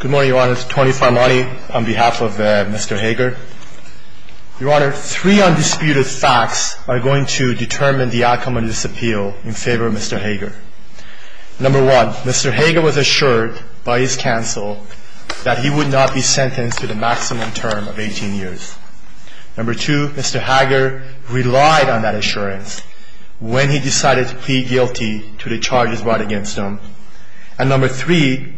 Good morning, Your Honor. Tony Farmani on behalf of Mr. Hager. Your Honor, three undisputed facts are going to determine the outcome of this appeal in favor of Mr. Hager. Number one, Mr. Hager was assured by his counsel that he would not be sentenced to the maximum term of 18 years. Number two, Mr. Hager relied on that assurance when he decided to plead guilty to the charges brought against him. And number three,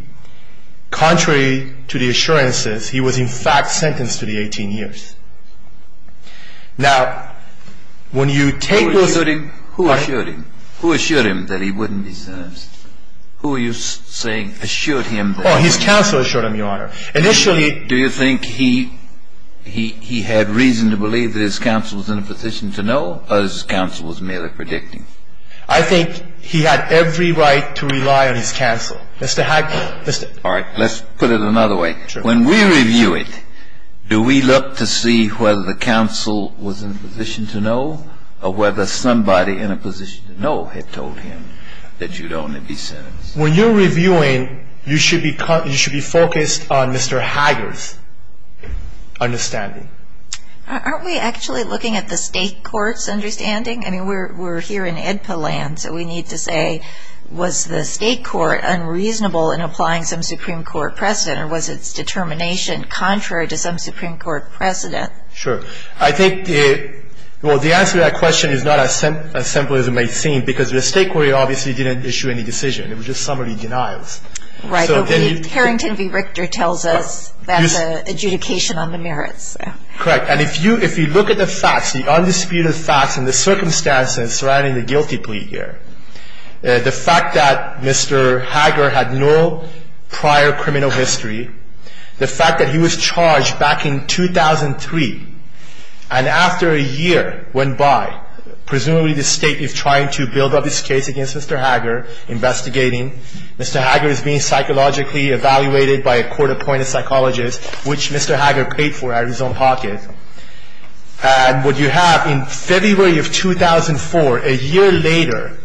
contrary to the assurances, he was in fact sentenced to the 18 years. Now, when you take those... Who assured him? Who assured him that he wouldn't be sentenced? Who were you saying assured him that... Oh, his counsel assured him, Your Honor. Initially... Do you think he had reason to believe that his counsel was in a position to know, or his counsel was merely predicting? I think he had every right to rely on his counsel. Mr. Hager. All right. Let's put it another way. When we review it, do we look to see whether the counsel was in a position to know, or whether somebody in a position to know had told him that you'd only be sentenced? When you're reviewing, you should be focused on Mr. Hager's understanding. Aren't we actually looking at the State court's understanding? I mean, we're here in IDPA land, so we need to say, was the State court unreasonable in applying some Supreme Court precedent, or was its determination contrary to some Supreme Court precedent? Sure. I think the answer to that question is not as simple as it may seem, because the State court obviously didn't issue any decision. It was just summary denials. Right. But Harrington v. Richter tells us that's an adjudication on the merits. Correct. And if you look at the facts, the undisputed facts and the circumstances surrounding the guilty plea here, the fact that Mr. Hager had no prior criminal history, the fact that he was charged back in 2003, and after a year went by, presumably the State is trying to build up its case against Mr. Hager, investigating. Mr. Hager is being psychologically evaluated by a court-appointed psychologist, which Mr. Hager paid for out of his own pocket. And what you have in February of 2004, a year later,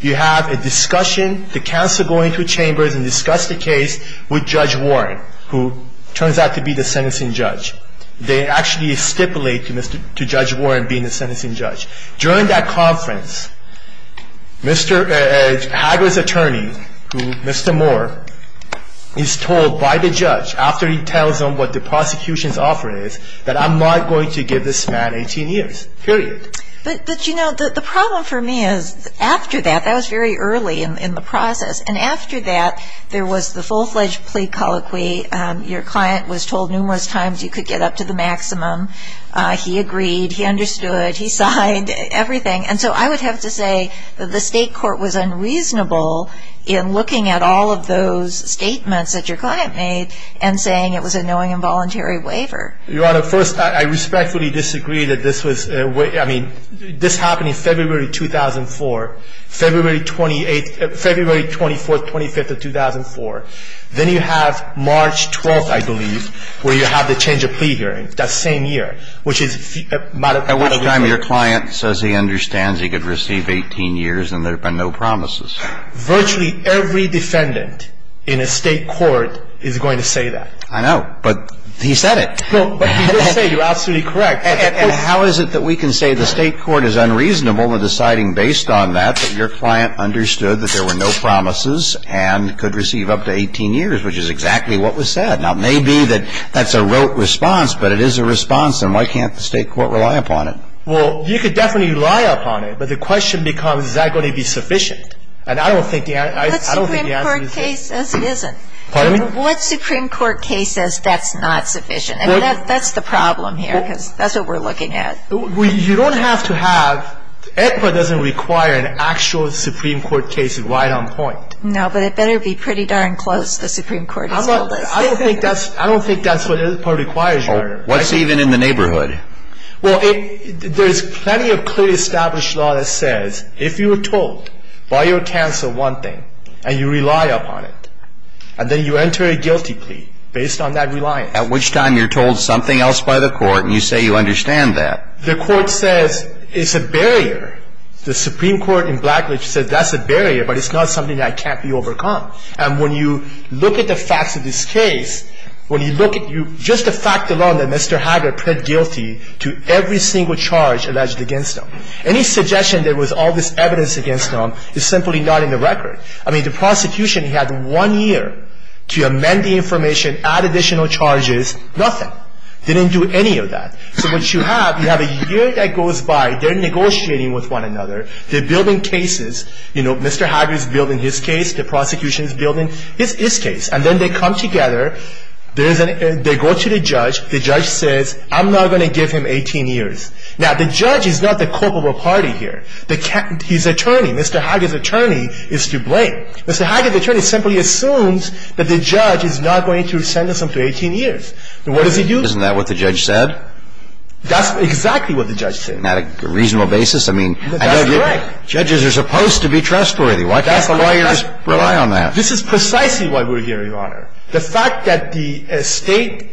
you have a discussion. The counsel go into chambers and discuss the case with Judge Warren, who turns out to be the sentencing judge. They actually stipulate to Judge Warren being the sentencing judge. During that conference, Mr. Hager's attorney, Mr. Moore, is told by the judge, after he tells him what the prosecution's offer is, that I'm not going to give this man 18 years. Period. But, you know, the problem for me is, after that, that was very early in the process, and after that there was the full-fledged plea colloquy. Your client was told numerous times you could get up to the maximum. He agreed. He understood. He signed. Everything. And so I would have to say that the State court was unreasonable in looking at all of those statements that your client made and saying it was a knowing and voluntary waiver. Your Honor, first, I respectfully disagree that this was – I mean, this happened in February 2004. February 28th – February 24th, 25th of 2004. Then you have March 12th, I believe, where you have the change of plea hearing, that same year, which is – At which time your client says he understands he could receive 18 years and there have been no promises. Virtually every defendant in a State court is going to say that. I know, but he said it. No, but he did say you're absolutely correct. And how is it that we can say the State court is unreasonable in deciding, based on that, that your client understood that there were no promises and could receive up to 18 years, which is exactly what was said? Now, it may be that that's a rote response, but it is a response, and why can't the State court rely upon it? Well, you could definitely rely upon it, but the question becomes, is that going to be sufficient? And I don't think the answer is – What Supreme Court case says it isn't? Pardon me? What Supreme Court case says that's not sufficient? I mean, that's the problem here, because that's what we're looking at. You don't have to have – AEDPA doesn't require an actual Supreme Court case right on point. No, but it better be pretty darn close, the Supreme Court has told us. I don't think that's what AEDPA requires, Your Honor. What's even in the neighborhood? Well, there's plenty of clearly established law that says if you were told by your counsel one thing, and you rely upon it, and then you enter a guilty plea based on that reliance. At which time you're told something else by the court, and you say you understand that. The court says it's a barrier. The Supreme Court in Blackridge says that's a barrier, but it's not something that can't be overcome. And when you look at the facts of this case, when you look at – just the fact alone that Mr. Hager pled guilty to every single charge alleged against him. Any suggestion there was all this evidence against him is simply not in the record. I mean, the prosecution had one year to amend the information, add additional charges, nothing. They didn't do any of that. So what you have, you have a year that goes by. They're negotiating with one another. They're building cases. You know, Mr. Hager is building his case. The prosecution is building his case. And then they come together. They go to the judge. The judge says, I'm not going to give him 18 years. Now, the judge is not the culpable party here. He's attorney. Mr. Hager's attorney is to blame. Mr. Hager's attorney simply assumes that the judge is not going to send him to 18 years. And what does he do? Isn't that what the judge said? That's exactly what the judge said. On a reasonable basis? I mean – That's correct. Judges are supposed to be trustworthy. Why can't the lawyers rely on that? This is precisely why we're here, Your Honor. The fact that the State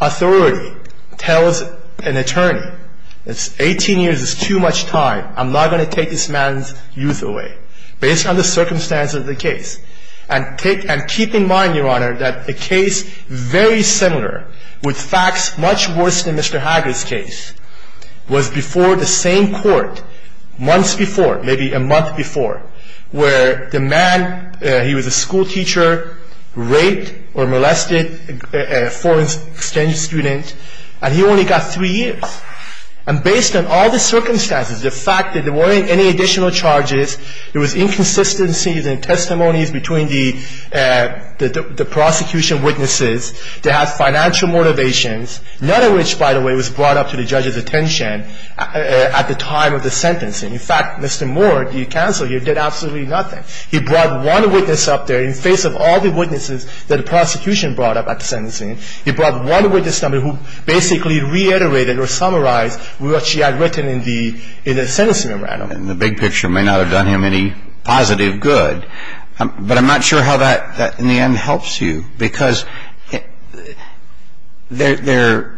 authority tells an attorney, 18 years is too much time. I'm not going to take this man's youth away, based on the circumstances of the case. And keep in mind, Your Honor, that a case very similar, with facts much worse than Mr. Hager's case, was before the same court, months before, maybe a month before, where the man, he was a school teacher, raped or molested a foreign exchange student, and he only got three years. And based on all the circumstances, the fact that there weren't any additional charges, there was inconsistencies in testimonies between the prosecution witnesses, to have financial motivations, none of which, by the way, was brought up to the judge's attention at the time of the sentencing. In fact, Mr. Moore, the counsel here, did absolutely nothing. He brought one witness up there in face of all the witnesses that the prosecution brought up at the sentencing. He brought one witness number who basically reiterated or summarized what she had written in the sentencing memorandum. And the big picture may not have done him any positive good. But I'm not sure how that in the end helps you. Because there's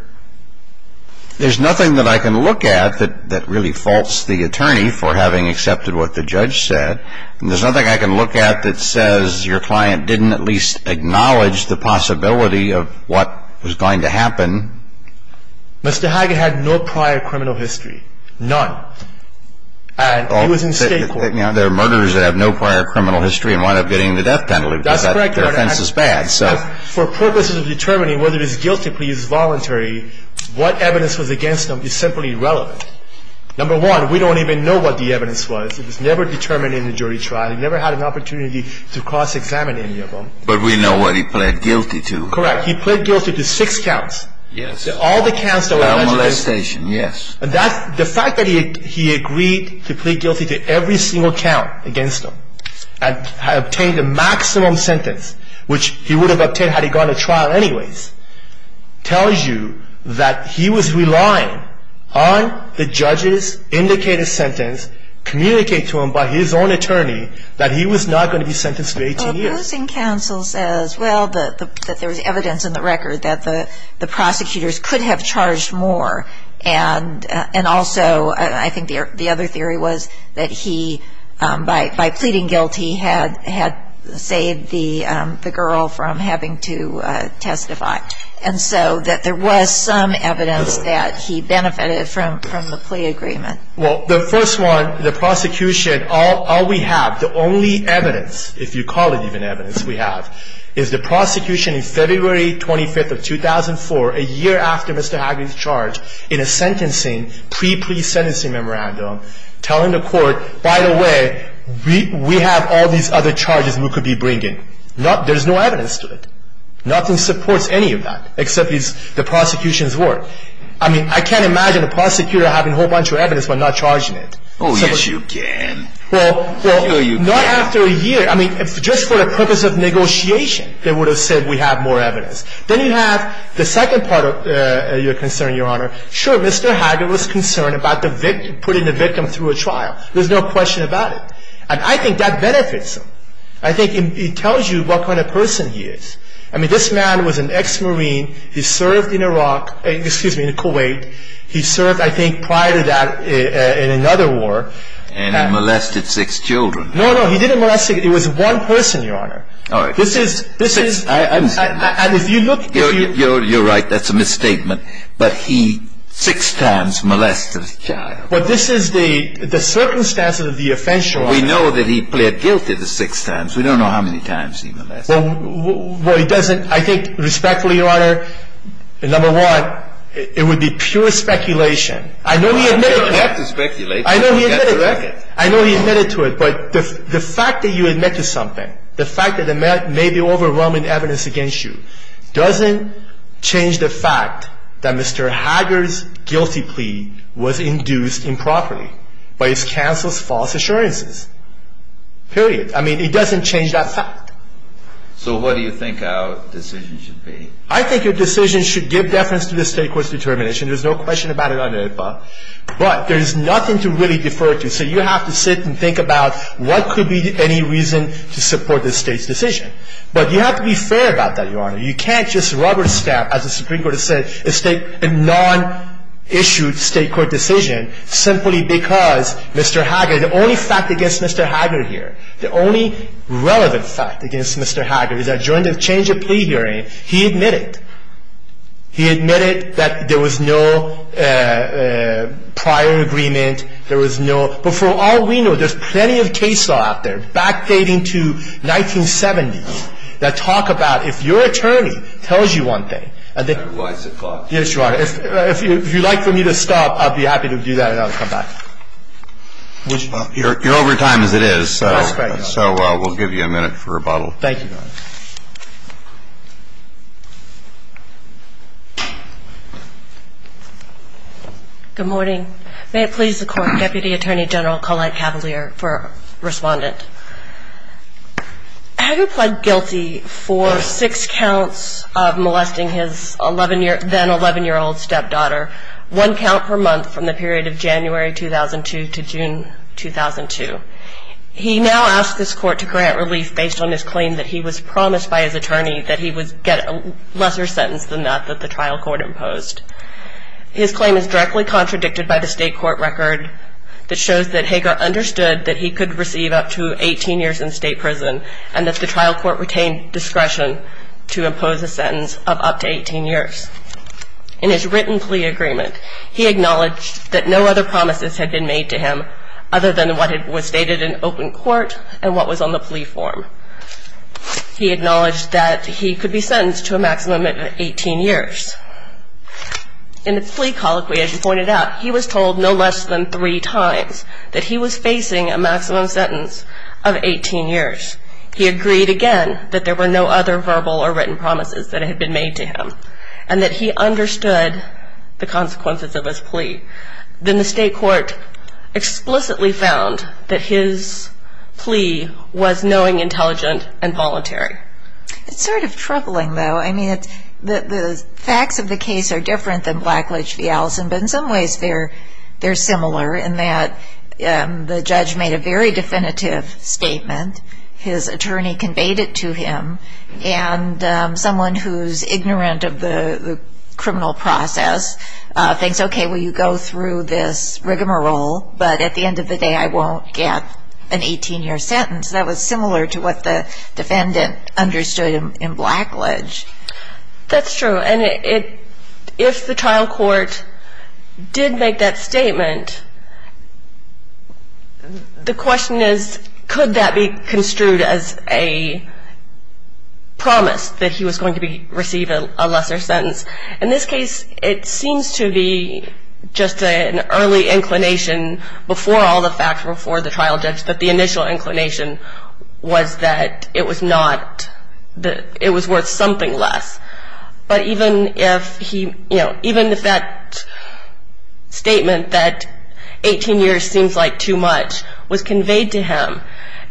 nothing that I can look at that really faults the attorney for having accepted what the judge said. And there's nothing I can look at that says your client didn't at least acknowledge the possibility of what was going to happen. Mr. Hager had no prior criminal history. None. And he was in state court. There are murderers that have no prior criminal history and wind up getting the death penalty. That's correct, Your Honor. And the defense is bad. For purposes of determining whether his guilty plea is voluntary, what evidence was against him is simply irrelevant. Number one, we don't even know what the evidence was. It was never determined in the jury trial. He never had an opportunity to cross-examine any of them. But we know what he pled guilty to. Correct. He pled guilty to six counts. Yes. All the counts that were alleged. Caramelization, yes. The fact that he agreed to plead guilty to every single count against him and obtained a maximum sentence, which he would have obtained had he gone to trial anyways, tells you that he was relying on the judge's indicated sentence communicated to him by his own attorney that he was not going to be sentenced to 18 years. The opposing counsel says, well, that there was evidence in the record that the prosecutors could have charged more. And also, I think the other theory was that he, by pleading guilty, had saved the girl from having to testify. And so that there was some evidence that he benefited from the plea agreement. Well, the first one, the prosecution, all we have, the only evidence, if you call it even evidence we have, is the prosecution in February 25th of 2004, a year after Mr. Hagley's charge, in a sentencing, pre-plea sentencing memorandum, telling the court, by the way, we have all these other charges we could be bringing. There's no evidence to it. Nothing supports any of that except the prosecution's word. I mean, I can't imagine a prosecutor having a whole bunch of evidence but not charging it. Oh, yes, you can. Well, not after a year. I mean, just for the purpose of negotiation, they would have said we have more evidence. Then you have the second part of your concern, Your Honor. Sure, Mr. Hagley was concerned about the victim, putting the victim through a trial. There's no question about it. And I think that benefits him. I think it tells you what kind of person he is. I mean, this man was an ex-Marine. He served in Iraq, excuse me, in Kuwait. He served, I think, prior to that in another war. And he molested six children. No, no, he didn't molest six. It was one person, Your Honor. All right. This is, this is, and if you look. You're right, that's a misstatement. But he six times molested a child. But this is the circumstances of the offense, Your Honor. We know that he pled guilty the six times. We don't know how many times he molested. Well, it doesn't, I think, respectfully, Your Honor, number one, it would be pure speculation. I know he admitted to it. You don't have to speculate. I know he admitted to it. I know he admitted to it. But the fact that you admit to something, the fact that there may be overwhelming evidence against you, doesn't change the fact that Mr. Hager's guilty plea was induced improperly by his counsel's false assurances. Period. I mean, it doesn't change that fact. So what do you think our decision should be? I think your decision should give deference to the State Court's determination. There's no question about it on the APA. But there's nothing to really defer to. So you have to sit and think about what could be any reason to support the State's decision. But you have to be fair about that, Your Honor. You can't just rubber stamp, as the Supreme Court has said, a non-issued State Court decision simply because Mr. Hager, the only fact against Mr. Hager here, the only relevant fact against Mr. Hager is that during the change of plea hearing, he admitted. He admitted that there was no prior agreement. There was no. But for all we know, there's plenty of case law out there, backdating to 1970s, that talk about if your attorney tells you one thing, and then – That's a wise thought. Yes, Your Honor. If you'd like for me to stop, I'd be happy to do that, and I'll come back. You're over time as it is, so we'll give you a minute for rebuttal. Thank you, Your Honor. Good morning. May it please the Court, Deputy Attorney General Collette Cavalier for Respondent. Hager pled guilty for six counts of molesting his then 11-year-old stepdaughter, one count per month from the period of January 2002 to June 2002. He now asks this Court to grant relief based on his claim that he was promised by his attorney that he would get a lesser sentence than that that the trial court imposed. His claim is directly contradicted by the State Court record that shows that Hager understood that he could receive up to 18 years in state prison and that the trial court retained discretion to impose a sentence of up to 18 years. In his written plea agreement, he acknowledged that no other promises had been made to him other than what was stated in open court and what was on the plea form. He acknowledged that he could be sentenced to a maximum of 18 years. In the plea colloquy, as you pointed out, he was told no less than three times that he was facing a maximum sentence of 18 years. He agreed again that there were no other verbal or written promises that had been made to him. And that he understood the consequences of his plea. Then the State Court explicitly found that his plea was knowing, intelligent, and voluntary. It's sort of troubling, though. I mean, the facts of the case are different than Blackledge v. Allison, but in some ways they're similar in that the judge made a very definitive statement, his attorney conveyed it to him, and someone who's ignorant of the criminal process thinks, okay, well, you go through this rigmarole, but at the end of the day I won't get an 18-year sentence. That was similar to what the defendant understood in Blackledge. That's true. And if the trial court did make that statement, the question is, could that be construed as a promise that he was going to receive a lesser sentence? In this case, it seems to be just an early inclination before all the facts before the trial judge that the initial inclination was that it was worth something less. But even if that statement that 18 years seems like too much was conveyed to him,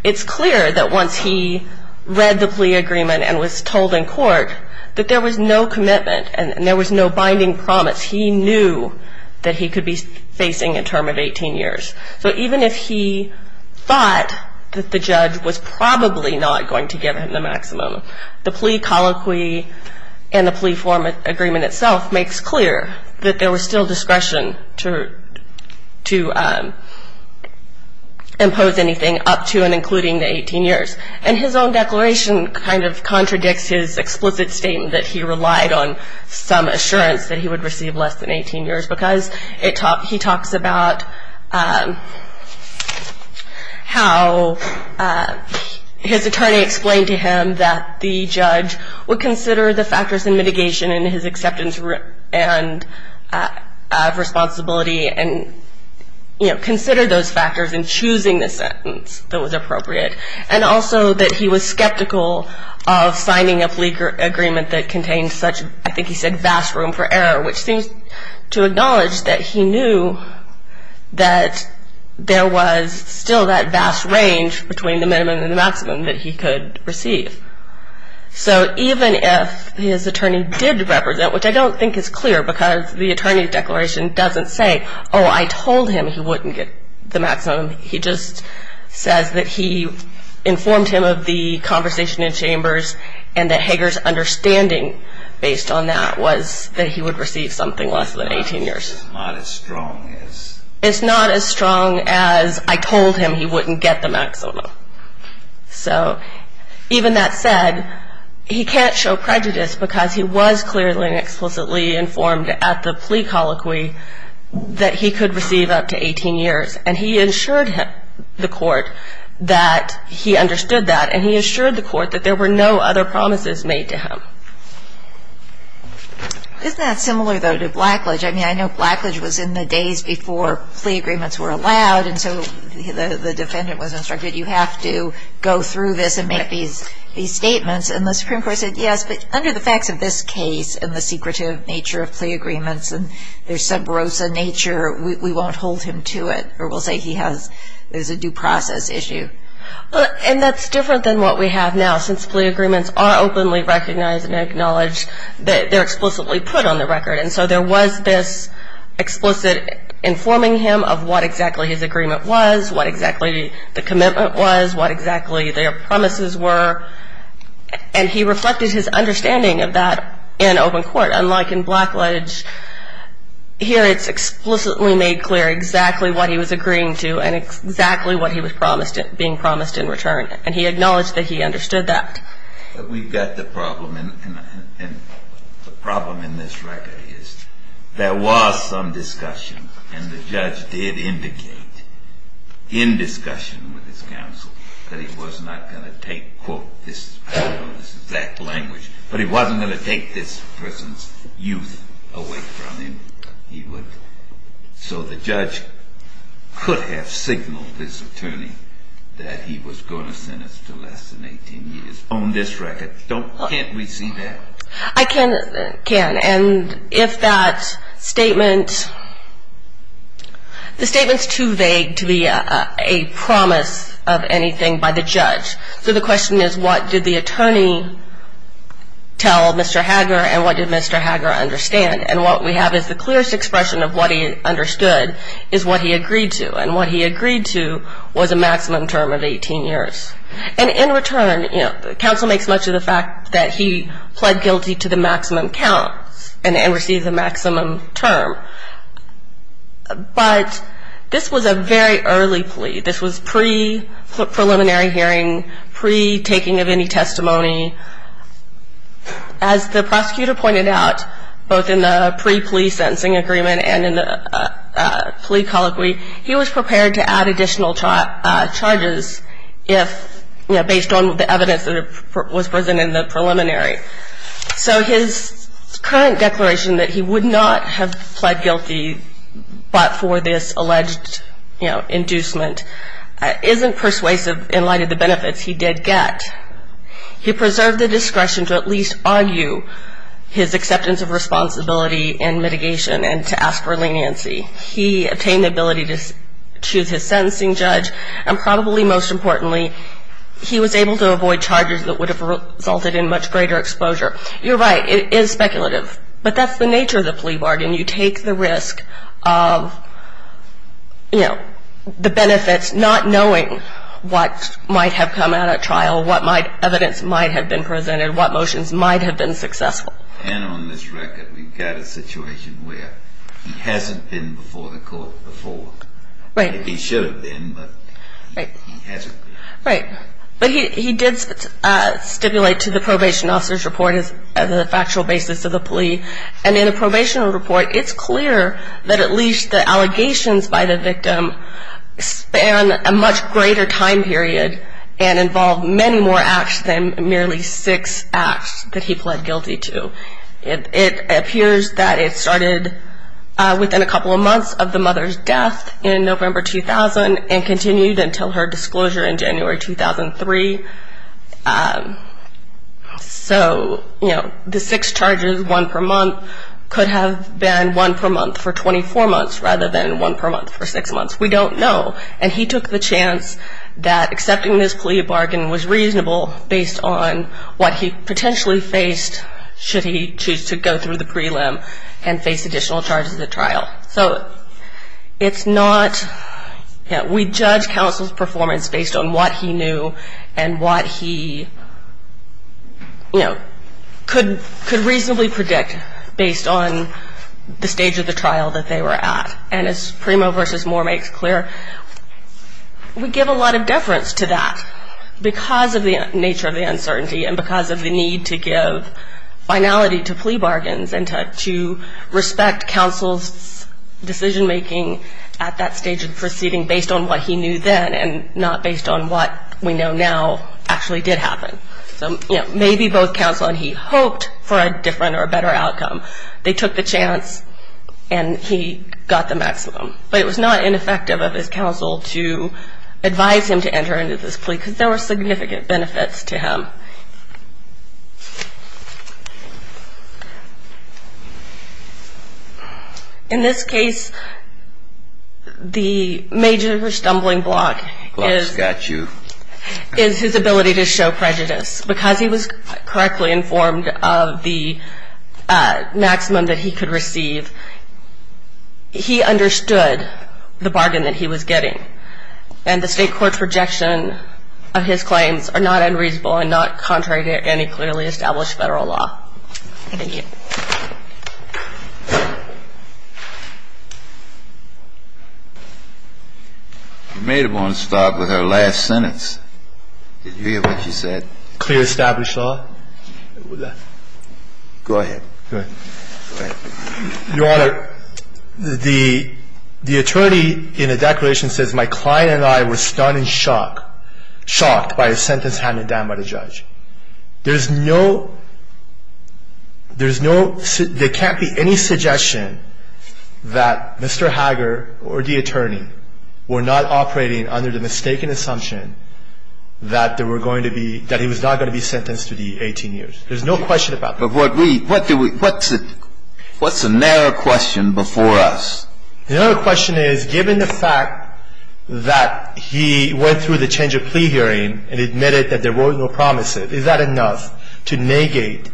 it's clear that once he read the plea agreement and was told in court that there was no commitment and there was no binding promise. He knew that he could be facing a term of 18 years. So even if he thought that the judge was probably not going to give him the maximum, the plea colloquy and the plea form agreement itself makes clear that there was still discretion to impose anything up to and including the 18 years. And his own declaration kind of contradicts his explicit statement that he relied on some assurance that he would receive less than 18 years because he talks about how his attorney explained to him that the judge would consider the factors in mitigation and his acceptance and responsibility and consider those factors in choosing the sentence that was appropriate. And also that he was skeptical of signing a plea agreement that contained such, I think he said, vast room for error, which seems to acknowledge that he knew that there was still that vast range between the minimum and the maximum that he could receive. So even if his attorney did represent, which I don't think is clear because the attorney's declaration doesn't say, oh, I told him he wouldn't get the maximum, he just says that he informed him of the conversation in chambers and that Hager's understanding based on that was that he would receive something less than 18 years. It's not as strong as I told him he wouldn't get the maximum. So even that said, he can't show prejudice because he was clearly and explicitly informed at the plea colloquy that he could receive up to 18 years. And he assured the court that he understood that, and he assured the court that there were no other promises made to him. Isn't that similar, though, to Blackledge? I mean, I know Blackledge was in the days before plea agreements were allowed, and so the defendant was instructed, you have to go through this and make these statements. And the Supreme Court said, yes, but under the facts of this case and the secretive nature of plea agreements and their subversive nature, we won't hold him to it, or we'll say there's a due process issue. And that's different than what we have now, since plea agreements are openly recognized and acknowledged that they're explicitly put on the record. And so there was this explicit informing him of what exactly his agreement was, what exactly the commitment was, what exactly their promises were. And he reflected his understanding of that in open court, unlike in Blackledge. Here it's explicitly made clear exactly what he was agreeing to and exactly what he was being promised in return. And he acknowledged that he understood that. But we've got the problem, and the problem in this record is there was some discussion, and the judge did indicate in discussion with his counsel that he was not going to take, quote, this exact language, but he wasn't going to take this person's youth away from him. So the judge could have signaled this attorney that he was going to sentence to less than 18 years on this record. Can't we see that? I can. And if that statement, the statement's too vague to be a promise of anything by the judge. So the question is, what did the attorney tell Mr. Hager, and what did Mr. Hager understand? And what we have is the clearest expression of what he understood is what he agreed to. And what he agreed to was a maximum term of 18 years. And in return, counsel makes much of the fact that he pled guilty to the maximum count and received the maximum term. But this was a very early plea. This was pre-preliminary hearing, pre-taking of any testimony. As the prosecutor pointed out, both in the pre-plea sentencing agreement and in the plea colloquy, he was prepared to add additional charges based on the evidence that was presented in the preliminary. So his current declaration that he would not have pled guilty but for this alleged inducement isn't persuasive in light of the benefits he did get. He preserved the discretion to at least argue his acceptance of responsibility in mitigation and to ask for leniency. He obtained the ability to choose his sentencing judge, and probably most importantly, he was able to avoid charges that would have resulted in much greater exposure. You're right. It is speculative. But that's the nature of the plea bargain. You take the risk of, you know, the benefits, not knowing what might have come out at trial, what evidence might have been presented, what motions might have been successful. And on this record, we've got a situation where he hasn't been before the court before. Right. He should have been, but he hasn't been. Right. But he did stipulate to the probation officer's report as a factual basis of the plea. And in the probation report, it's clear that at least the allegations by the victim span a much greater time period and involve many more acts than merely six acts that he pled guilty to. It appears that it started within a couple of months of the mother's death in November 2000 and continued until her disclosure in January 2003. So, you know, the six charges, one per month, could have been one per month for 24 months rather than one per month for six months. We don't know. And he took the chance that accepting this plea bargain was reasonable based on what he potentially faced should he choose to go through the prelim and face additional charges at trial. So it's not we judge counsel's performance based on what he knew and what he, you know, could reasonably predict based on the stage of the trial that they were at. And as Primo v. Moore makes clear, we give a lot of deference to that because of the nature of the uncertainty and because of the need to give finality to plea bargains and to respect counsel's decision-making at that stage of the proceeding based on what he knew then and not based on what we know now actually did happen. So, you know, maybe both counsel and he hoped for a different or better outcome. They took the chance and he got the maximum. But it was not ineffective of his counsel to advise him to enter into this plea because there were significant benefits to him. In this case, the major stumbling block is his ability to show prejudice because he was correctly informed of the maximum that he could receive. He understood the bargain that he was getting. And the State court's rejection of his claims are not unreasonable and not contrary to any clearly established Federal law. Thank you. You may want to start with our last sentence. Did you hear what you said? Clear established law. Go ahead. Go ahead. Your Honor, the attorney in the declaration says my client and I were stunned in shock, shocked by a sentence handed down by the judge. There's no, there's no, there can't be any suggestion that Mr. Hager or the attorney were not operating under the mistaken assumption that there were going to be, that he was not going to be sentenced to the 18 years. There's no question about that. But what we, what do we, what's it, what's the narrow question before us? The narrow question is given the fact that he went through the change of plea hearing and admitted that there were no promises, is that enough to negate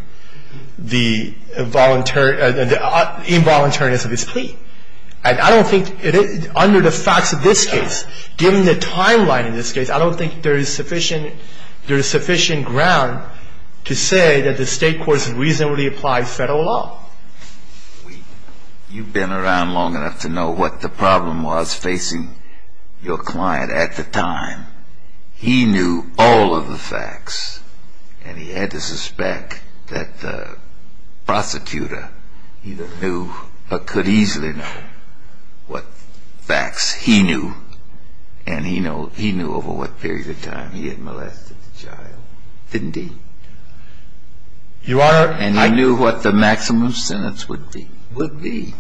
the involuntary, the involuntariness of his plea? And I don't think, under the facts of this case, given the timeline in this case, I don't think there is sufficient, there is sufficient ground to say that the State court has reasonably applied Federal law. You've been around long enough to know what the problem was facing your client at the time. He knew all of the facts, and he had to suspect that the prosecutor either knew or could easily know what facts he knew, and he knew over what period of time he had molested the child. Didn't he? Your Honor. And he knew what the maximum sentence would be. Would be.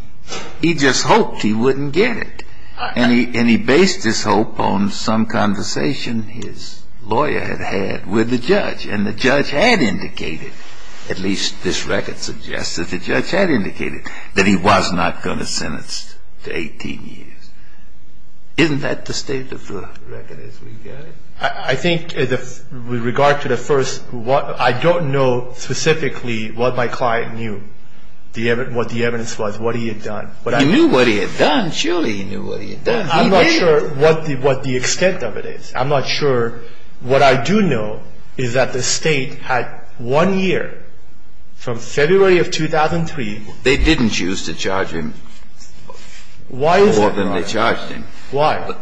He just hoped he wouldn't get it. And he based his hope on some conversation his lawyer had had with the judge, and the judge had indicated, at least this record suggests that the judge had indicated, that he was not going to sentence to 18 years. Isn't that the state of the record as we get it? I think with regard to the first, I don't know specifically what my client knew, what the evidence was, what he had done. He knew what he had done. Surely he knew what he had done. He did. I'm not sure what the extent of it is. I'm not sure. What I do know is that the State had one year from February of 2003. They didn't choose to charge him more than they charged him. Why?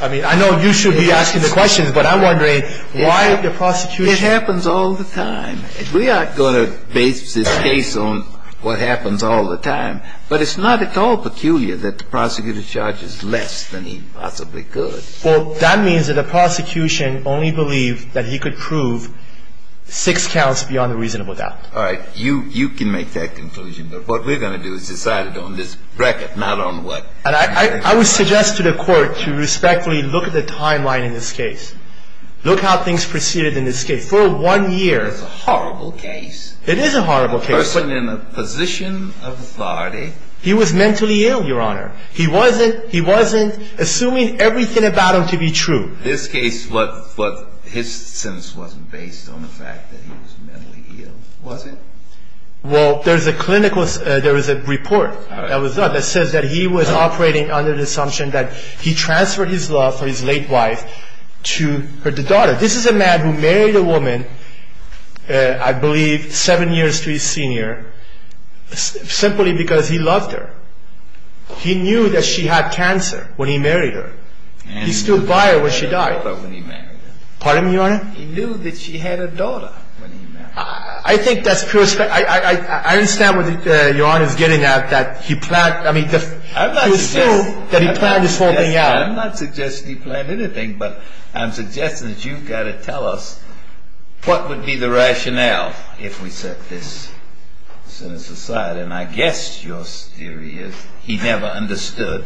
I mean, I know you should be asking the questions, but I'm wondering why the prosecution It happens all the time. We are going to base this case on what happens all the time. But it's not at all peculiar that the prosecutor charges less than he possibly could. Well, that means that the prosecution only believed that he could prove six counts beyond a reasonable doubt. All right. You can make that conclusion. But what we're going to do is decide it on this bracket, not on what. And I would suggest to the Court to respectfully look at the timeline in this case. Look how things proceeded in this case. For one year. It's a horrible case. It is a horrible case. A person in a position of authority. He was mentally ill, Your Honor. He wasn't assuming everything about him to be true. This case, his sentence wasn't based on the fact that he was mentally ill, was it? Well, there is a report that says that he was operating under the assumption that he transferred his love for his late wife to her daughter. This is a man who married a woman, I believe seven years to his senior, simply because he loved her. He knew that she had cancer when he married her. He stood by her when she died. Pardon me, Your Honor? He knew that she had a daughter when he married her. I think that's pure speculation. I understand what Your Honor is getting at, that he planned. I mean, he was sure that he planned this whole thing out. I'm not suggesting he planned anything, but I'm suggesting that you've got to tell us what would be the rationale if we set this sentence aside. And I guess your theory is he never understood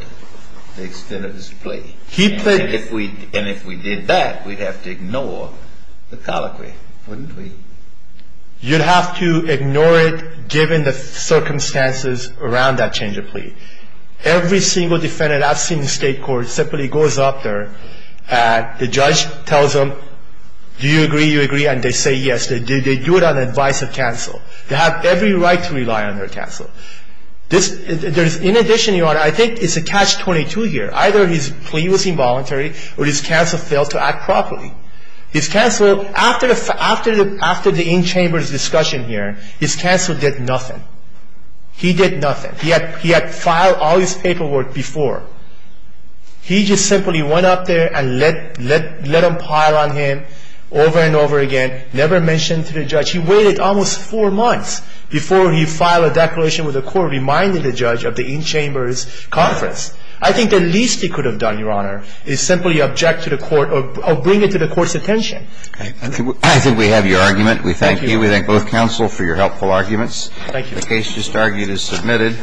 the extent of his plea. And if we did that, we'd have to ignore the colloquy, wouldn't we? You'd have to ignore it given the circumstances around that change of plea. Every single defendant I've seen in state court simply goes up there and the judge tells them, do you agree, you agree, and they say yes. They do it on advice of counsel. They have every right to rely on their counsel. In addition, Your Honor, I think it's a catch-22 here. Either his plea was involuntary or his counsel failed to act properly. His counsel, after the in-chambers discussion here, his counsel did nothing. He did nothing. He had filed all his paperwork before. He just simply went up there and let them pile on him over and over again, never mentioned to the judge. He waited almost four months before he filed a declaration with the court reminding the judge of the in-chambers conference. I think the least he could have done, Your Honor, is simply object to the court or bring it to the court's attention. I think we have your argument. We thank you. We thank both counsel for your helpful arguments. Thank you. The case just argued is submitted.